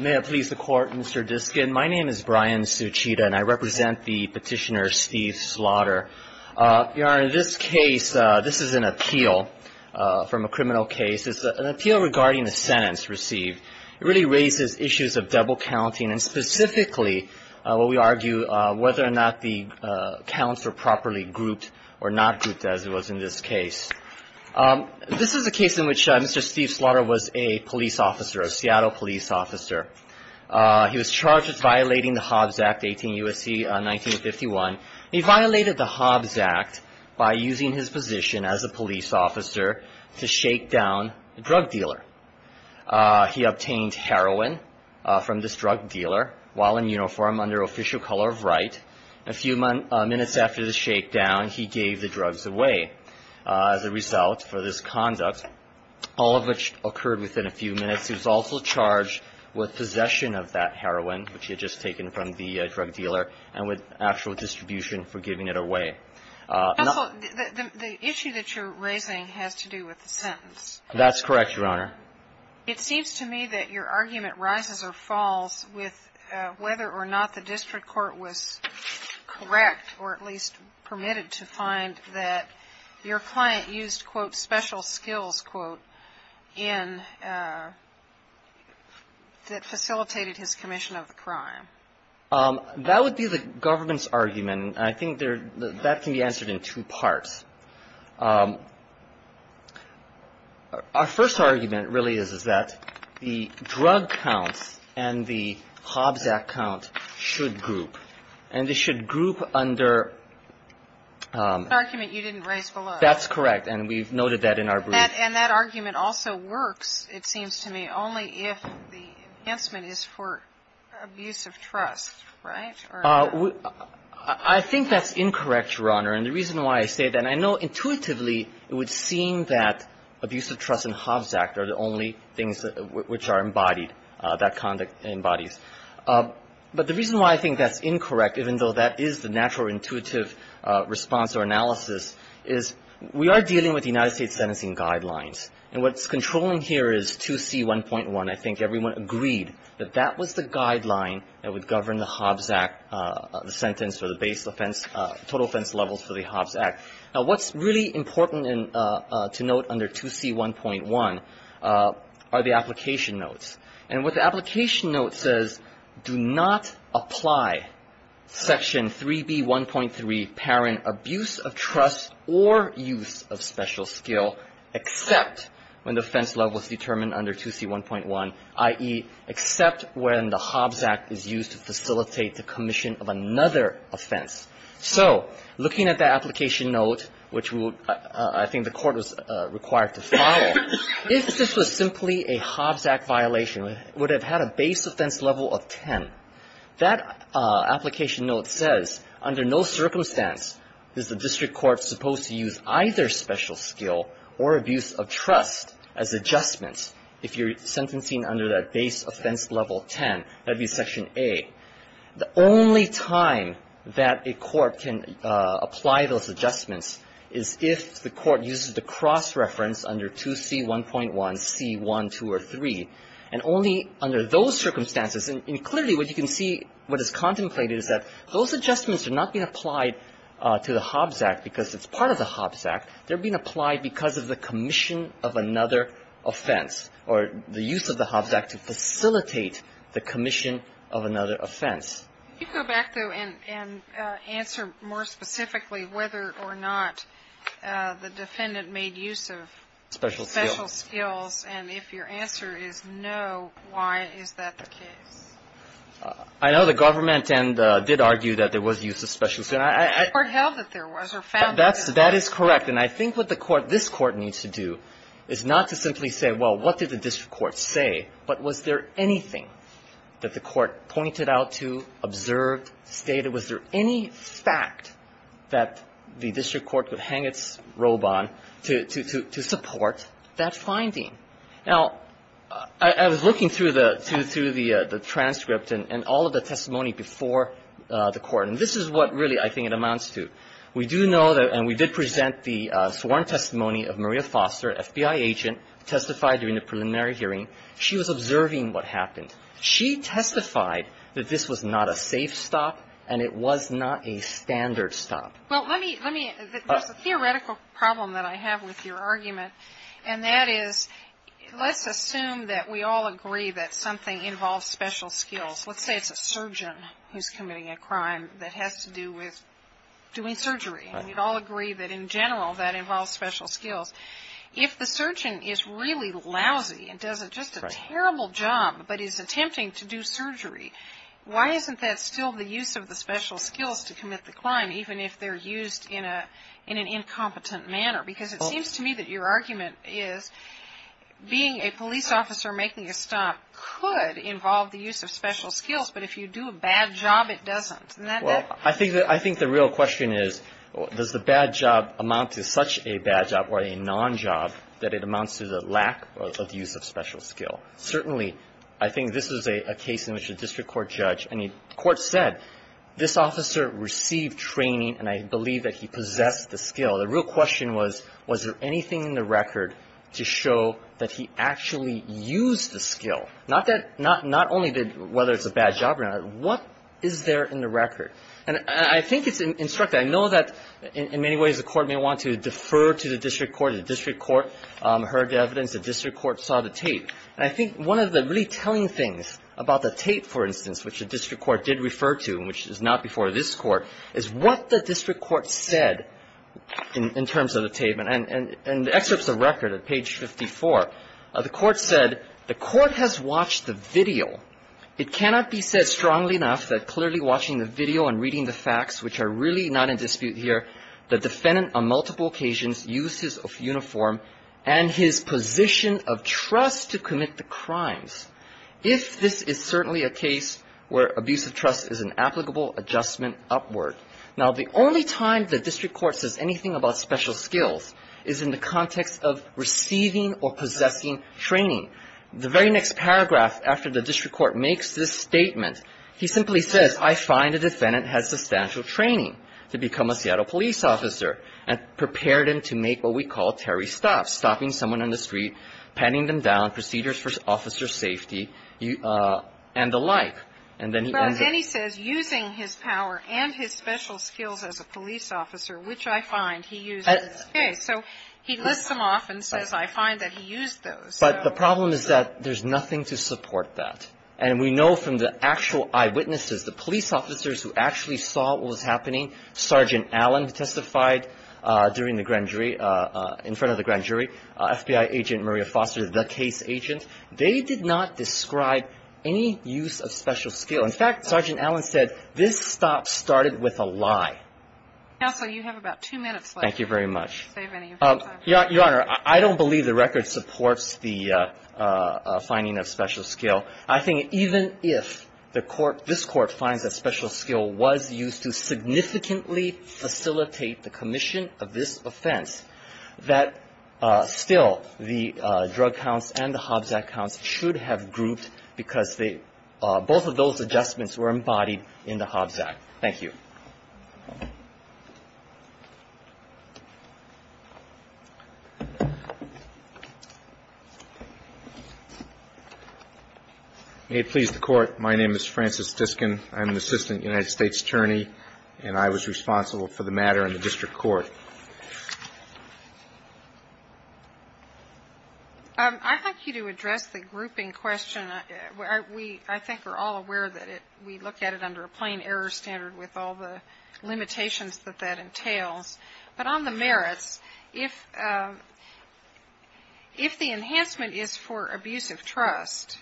May I please the Court, Mr. Diskin? My name is Brian Suchita, and I represent the petitioner Steve Slaughter. Your Honor, in this case, this is an appeal from a criminal case. It's an appeal regarding a sentence received. It really raises issues of double counting, and specifically, what we argue, whether or not the counts are properly grouped or not grouped, as it was in this case. This is a case in which Mr. Steve Slaughter was a police officer, a Seattle police officer. He was charged with the Hobbs Act, 18 U.S.C., 1951. He violated the Hobbs Act by using his position as a police officer to shake down a drug dealer. He obtained heroin from this drug dealer while in uniform under official color of right. A few minutes after the shakedown, he gave the drugs away as a result for this conduct, all of which occurred within a few minutes. He was also charged with possession of that heroin, which he had just taken from the drug dealer, and with actual distribution for giving it away. The issue that you're raising has to do with the sentence. That's correct, Your Honor. It seems to me that your argument rises or falls with whether or not the district court was correct or at least permitted to find that your That would be the government's argument, and I think that can be answered in two parts. Our first argument really is, is that the drug counts and the Hobbs Act count should group, and they should group under The argument you didn't raise below. That's correct, and we've noted that in our brief. And that argument also works, it seems to me, only if the enhancement is for abuse of trust, right? I think that's incorrect, Your Honor. And the reason why I say that, and I know intuitively it would seem that abuse of trust and Hobbs Act are the only things which are embodied, that conduct embodies. But the reason why I think that's incorrect, even though that is the natural intuitive response or analysis, is we are dealing with the United States sentencing guidelines. And what's controlling here is 2C1.1. I think everyone agreed that that was the guideline that would govern the Hobbs Act sentence or the base offense, total offense levels for the Hobbs Act. Now, what's really important to note under 2C1.1 are the application notes. And what the application note says, do not apply Section 3B1.3, parent abuse of trust or use of special skill, except when the offense level is determined under 2C1.1, i.e., except when the Hobbs Act is used to facilitate the commission of another offense. So looking at the application note, which I think the Court was required to follow, if this was simply a Hobbs Act violation, it would have had a base offense level of 10. That application note says under no circumstance is the district court supposed to use either special skill or abuse of trust as adjustments. If you're sentencing under that base offense level 10, that would be Section A. The only time that a court can apply those adjustments is if the court uses the cross-reference under 2C1.1, C1, 2, or 3, and only under those circumstances. And clearly, what you can see, what is contemplated is that those adjustments are not being applied to the Hobbs Act because it's part of the Hobbs Act. They're being applied because of the commission of another offense or the use of the Hobbs Act to facilitate the commission of another offense. You can go back, though, and answer more specifically whether or not the defendant made use of special skills. And if your answer is no, why is that the case? I know the government did argue that there was use of special skills. The court held that there was or found that there was. That is correct. And I think what the court, this Court, needs to do is not to simply say, well, what did the district court say, but was there anything that the court pointed out to, observed, stated? Was there any fact that the district court would hang its robe on to support that finding? Now, I was looking through the transcript and all of the testimony before the court, and this is what really I think it amounts to. We do know that, and we did present the sworn testimony of Maria Foster, FBI agent, testified during the preliminary hearing. She was observing what happened. She testified that this was not a safe stop, and it was not a standard stop. Well, let me, let me, there's a theoretical problem that I have with your argument, and that is, let's assume that we all agree that something involves special skills. Let's say it's a surgeon who's committing a crime that has to do with doing surgery. Right. And we'd all agree that, in general, that involves special skills. If the surgeon is really lousy and does just a terrible job, but is attempting to do surgery, why isn't that still the use of the special skills to commit the crime, even if they're used in an incompetent manner? Because it seems to me that your argument is being a police officer making a stop could involve the use of special skills, but if you do a bad job, it doesn't. Well, I think, I think the real question is, does the bad job amount to such a bad job or a non-job that it amounts to the lack of use of special skill? Certainly, I think this is a case in which a district court judge, I mean, the court said, this officer received training, and I believe that he possessed the skill. The real question was, was there anything in the record to show that he actually used the skill? Not that, not only did, whether it's a bad job or not, but what is there in the record? And I think it's instructive. I know that in many ways the Court may want to defer to the district court. The district court heard the evidence. The district court saw the tape. And I think one of the really telling things about the tape, for instance, which the district court did refer to, which is not before this Court, is what the district court said in terms of the tape. And the excerpt is a record at page 54. The court said, the court has watched the video. It cannot be said strongly enough that clearly watching the video and reading the facts, which are really not in dispute here, the defendant on multiple occasions used his uniform and his position of trust to commit the crimes, if this is certainly a case where abuse of trust is an applicable adjustment upward. Now, the only time the district court says anything about special skills is in the context of receiving or possessing training. The very next paragraph after the district court makes this statement, he simply says, I find the defendant has substantial training to become a Seattle police officer and prepared him to make what we call Terry stops, stopping someone on the street, patting them down, procedures for officer safety, and the like. And then he ends up using his power and his special skills as a police officer, which I find he used in this case. So he lists them off and says, I find that he used those. But the problem is that there's nothing to support that. And we know from the actual eyewitnesses, the police officers who actually saw what was happening, Sergeant Allen testified during the grand jury, in front of the grand jury, FBI agent Maria Foster, the case agent. They did not describe any use of special skill. In fact, Sergeant Allen said, this stop started with a lie. Counsel, you have about two minutes left. Thank you very much. Your Honor, I don't believe the record supports the finding of special skill. I think even if the court, this court finds that special skill was used to significantly facilitate the commission of this offense, that still the drug counts and the Hobzack counts should have grouped because they, both of those adjustments were embodied in the Hobzack. Thank you. May it please the Court, my name is Francis Diskin. I'm an assistant United States attorney, and I was responsible for the matter in the district court. I'd like you to address the grouping question. I think we're all aware that we look at it under a plain error standard with all the limitations that that entails. But on the merits, if the enhancement is for abuse of trust,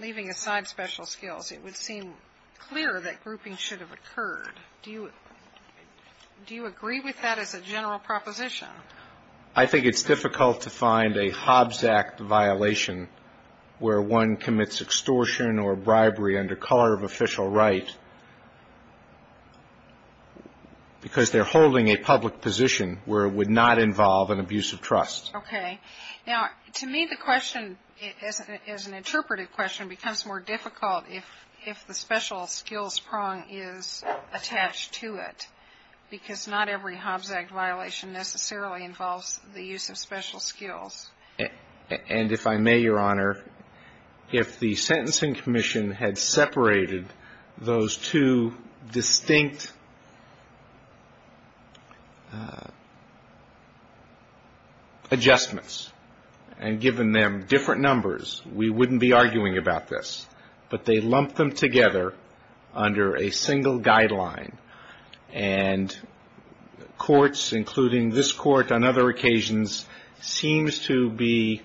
leaving aside special skills, it would seem clear that grouping should have occurred. Do you agree with that as a general proposition? I think it's difficult to find a Hobzack violation where one commits extortion or bribery under color of official right because they're holding a public position where it would not involve an abuse of trust. Okay. Now, to me, the question, as an interpretive question, becomes more difficult if the special skills prong is attached to it because not every Hobzack violation necessarily involves the use of special skills. And if I may, Your Honor, if the Sentencing Commission had separated those two distinct adjustments and given them different numbers, we wouldn't be arguing about this. But they lumped them together under a single guideline. And courts, including this court on other occasions, seems to be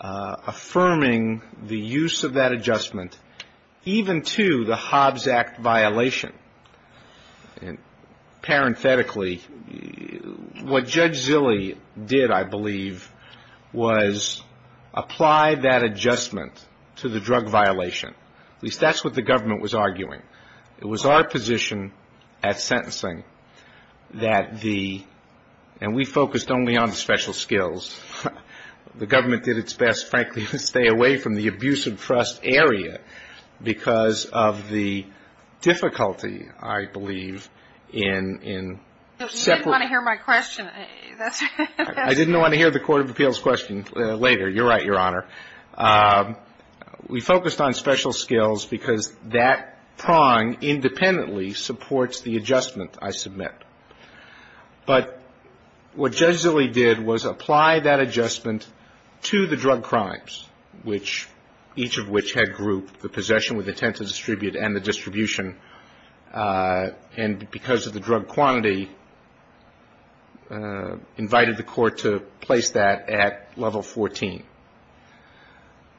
affirming the use of that adjustment even to the Hobzack violation. And parenthetically, what Judge Zille did, I believe, was apply that adjustment to the drug violation. At least that's what the government was arguing. It was our position at sentencing that the ‑‑ and we focused only on special skills. The government did its best, frankly, to stay away from the abuse of trust area because of the difficulty, I believe, in separate ‑‑ You didn't want to hear my question. I didn't want to hear the Court of Appeals question later. You're right, Your Honor. We focused on special skills because that prong independently supports the adjustment I submit. But what Judge Zille did was apply that adjustment to the drug crimes, which each of which had grouped the possession with intent to distribute and the distribution. And because of the drug quantity, invited the court to place that at level 14.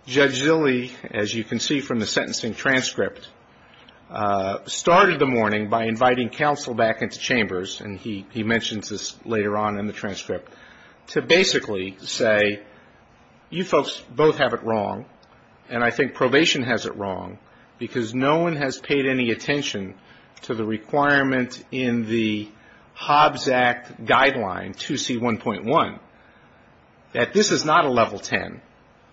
Judge Zille, as you can see from the sentencing transcript, started the morning by inviting counsel back into chambers, and he mentions this later on in the transcript, to basically say, you folks both have it wrong, and I think probation has it wrong, because no one has paid any attention to the requirement in the Hobzack guideline, 2C1.1, that this is not a level 10.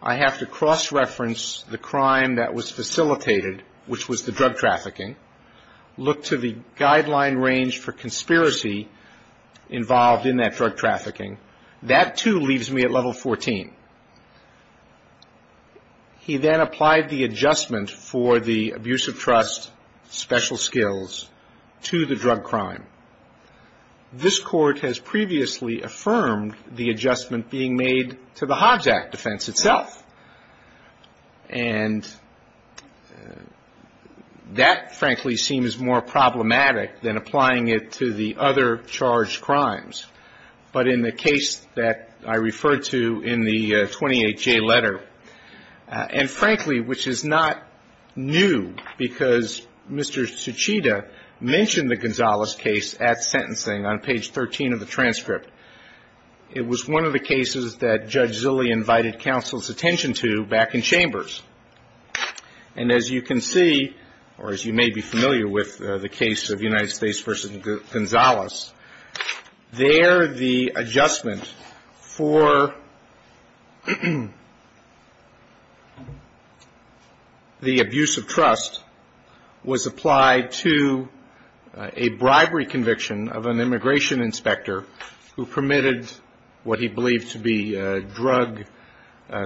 I have to cross‑reference the crime that was facilitated, which was the drug trafficking, look to the guideline range for conspiracy involved in that drug trafficking. That, too, leaves me at level 14. He then applied the adjustment for the abuse of trust special skills to the drug crime. This Court has previously affirmed the adjustment being made to the Hobzack defense itself, and that, frankly, seems more problematic than applying it to the other charged crimes. But in the case that I referred to in the 28J letter, and, frankly, which is not new because Mr. Tsuchida mentioned the Gonzales case at sentencing on page 13 of the transcript, it was one of the cases that Judge Zille invited counsel's attention to back in chambers. And as you can see, or as you may be familiar with the case of United States v. Gonzales, there the adjustment for the abuse of trust was applied to a bribery conviction of an immigration inspector who permitted what he believed to be drug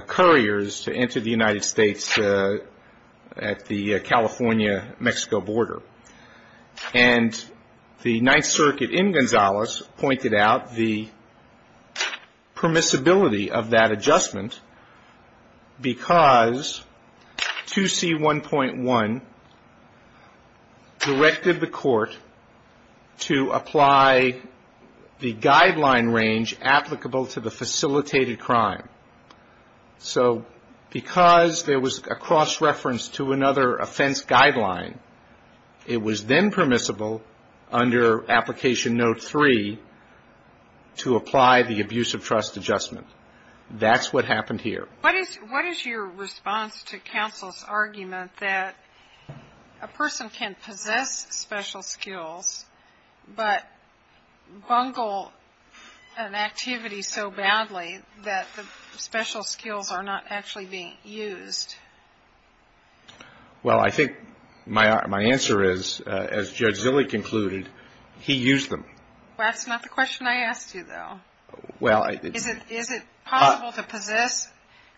couriers to enter the United States at the California‑Mexico border. And the Ninth Circuit in Gonzales pointed out the permissibility of that adjustment because 2C1.1 directed the Court to apply the guideline range applicable to the facilitated crime. So because there was a cross reference to another offense guideline, it was then permissible under application note three to apply the abuse of trust adjustment. That's what happened here. What is your response to counsel's argument that a person can possess special skills, but bungle an activity so badly that the special skills are not actually being used? Well, I think my answer is, as Judge Zille concluded, he used them. That's not the question I asked you, though. Is it possible to possess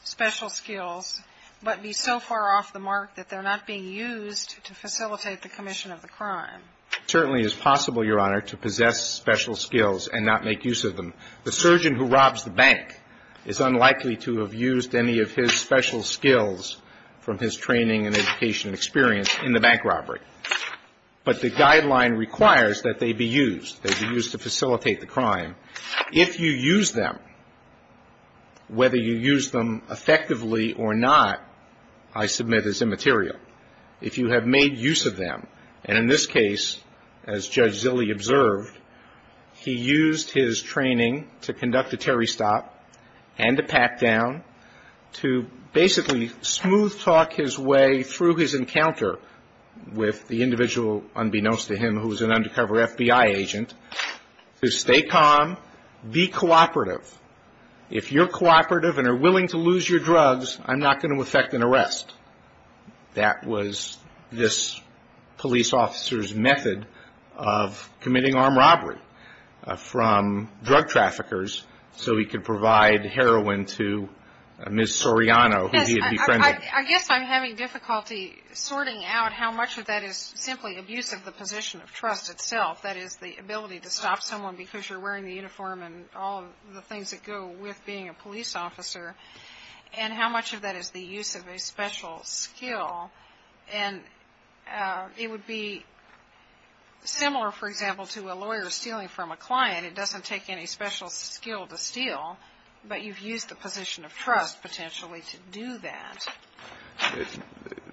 special skills, but be so far off the mark that they're not being used to facilitate the commission of the crime? It certainly is possible, Your Honor, to possess special skills and not make use of them. The surgeon who robs the bank is unlikely to have used any of his special skills from his training and education and experience in the bank robbery. But the guideline requires that they be used. They be used to facilitate the crime. If you use them, whether you use them effectively or not, I submit is immaterial. If you have made use of them, and in this case, as Judge Zille observed, he used his training to conduct a Terry stop and a pat down to basically smooth talk his way through his encounter with the individual, unbeknownst to him, who was an undercover FBI agent, to stay calm, be cooperative. If you're cooperative and are willing to lose your drugs, I'm not going to effect an arrest. That was this police officer's method of committing armed robbery from drug traffickers so he could provide heroin to Ms. Soriano, who he had befriended. I guess I'm having difficulty sorting out how much of that is simply abuse of the position of trust itself, that is, the ability to stop someone because you're wearing the uniform and all of the things that go with being a police officer, and how much of that is the use of a special skill. And it would be similar, for example, to a lawyer stealing from a client. It doesn't take any special skill to steal, but you've used the position of trust potentially to do that.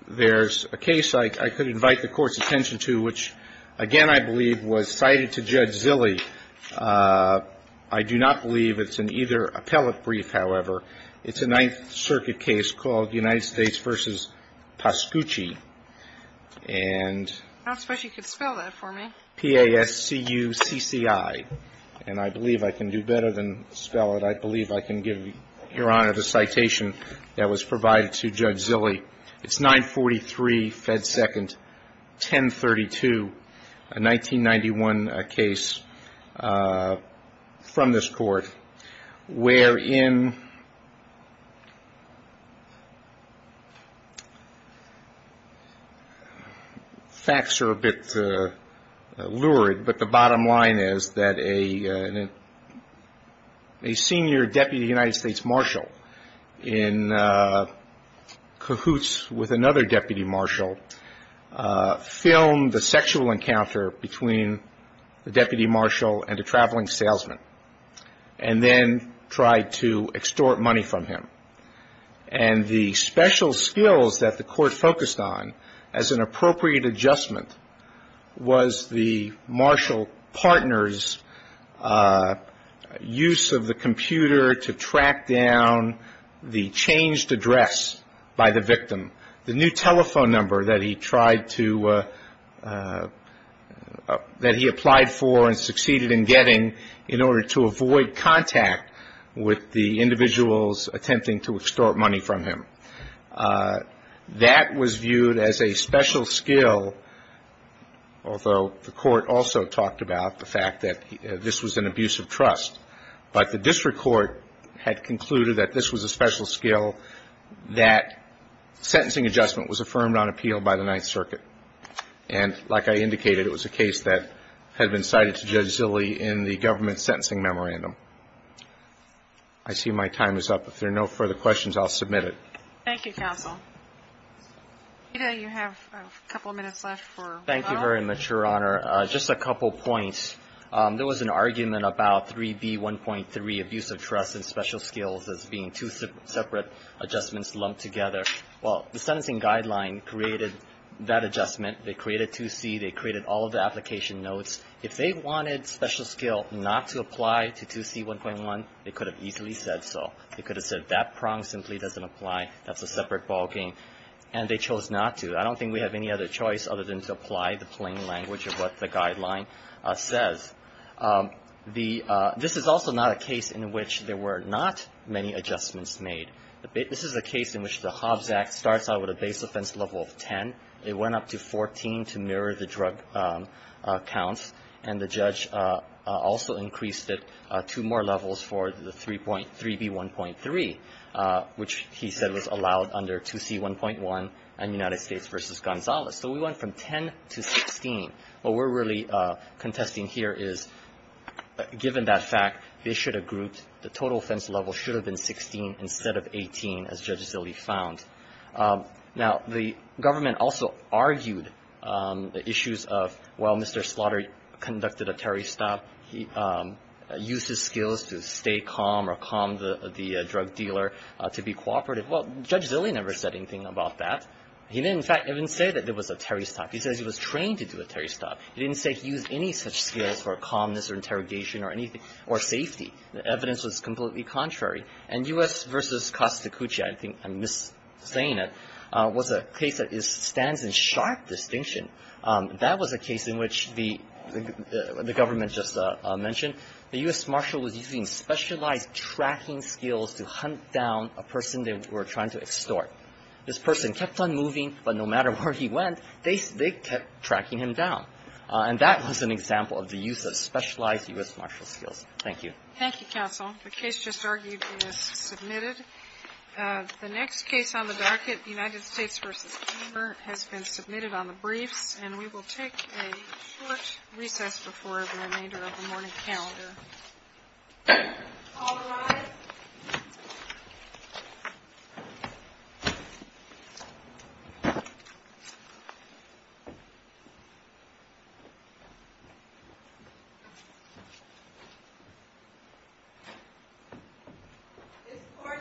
There's a case I could invite the Court's attention to, which, again, I believe was cited to Judge Zille. I do not believe it's an either or. It's an appellate brief, however. It's a Ninth Circuit case called United States v. Pascucci. And… I don't suppose you could spell that for me. P-A-S-C-U-C-C-I. And I believe I can do better than spell it. I believe I can give Your Honor the citation that was provided to Judge Zille. It's 943 Fed Second 1032, a 1991 case from this Court, where Judge Zille, who was an undercover FBI agent, was involved in an affair in… facts are a bit lurid, but the bottom line is that a senior deputy United States marshal in cahoots with another deputy marshal filmed the sexual encounter between the deputy marshal and a traveling salesman, and then tried to extort money from him. And the special skills that the Court focused on as an appropriate adjustment was the marshal partner's use of the computer to track down the changed address by the victim, the new telephone number that he tried to… that he applied for and succeeded in getting in order to avoid contact with the victim. And that was viewed as a special skill, although the Court also talked about the fact that this was an abuse of trust. But the district court had concluded that this was a special skill, that sentencing adjustment was affirmed on appeal by the Ninth Circuit. And, like I indicated, it was a case that had been cited to Judge Zille in the government sentencing memorandum. I see my time is up. If there are no further questions, I'll submit it. Thank you, counsel. Peter, you have a couple minutes left for… Thank you very much, Your Honor. Just a couple points. There was an argument about 3B1.3, abuse of trust and special skills as being two separate adjustments lumped together. Well, the sentencing guideline created that adjustment. They created 2C. They created all of the application notes. If they wanted special skill not to apply to 2C1.1, they could have easily said so. They could have said, that prong simply doesn't apply. That's a separate ballgame. And they chose not to. I don't think we have any other choice other than to apply the plain language of what the guideline says. This is also not a case in which there were not many adjustments made. This is a case in which the Hobbs Act starts out with a base offense level of 10. It went up to 14 to mirror the drug counts. And the judge also increased it two more levels for the 3B1.3, which he said was allowed under 2C1.1 and United States v. Gonzales. So we went from 10 to 16. What we're really contesting here is, given that fact, they should have grouped. The total offense level should have been 16 instead of 18, as Judge Zille found. Now, the government also argued the issues of, well, Mr. Slaughter conducted a Terry stop. He used his skills to stay calm or calm the drug dealer to be cooperative. Well, Judge Zille never said anything about that. He didn't, in fact, even say that there was a Terry stop. He says he was trained to do a Terry stop. He didn't say he used any such skills for calmness or interrogation or anything or safety. The evidence was completely contrary. And U.S. v. Costa Cuccia, I think I'm saying it, was a case that stands in sharp distinction. That was a case in which the government just mentioned the U.S. Marshal was using specialized tracking skills to hunt down a person they were trying to extort. This person kept on moving, but no matter where he went, they kept tracking him down. And that was an example of the use of specialized U.S. Marshal skills. Thank you. Thank you, counsel. The case just argued is submitted. The next case on the docket, United States v. Gamer, has been submitted on the briefs, and we will take a short recess before the remainder of the morning calendar. All rise. This court shall stand in recess.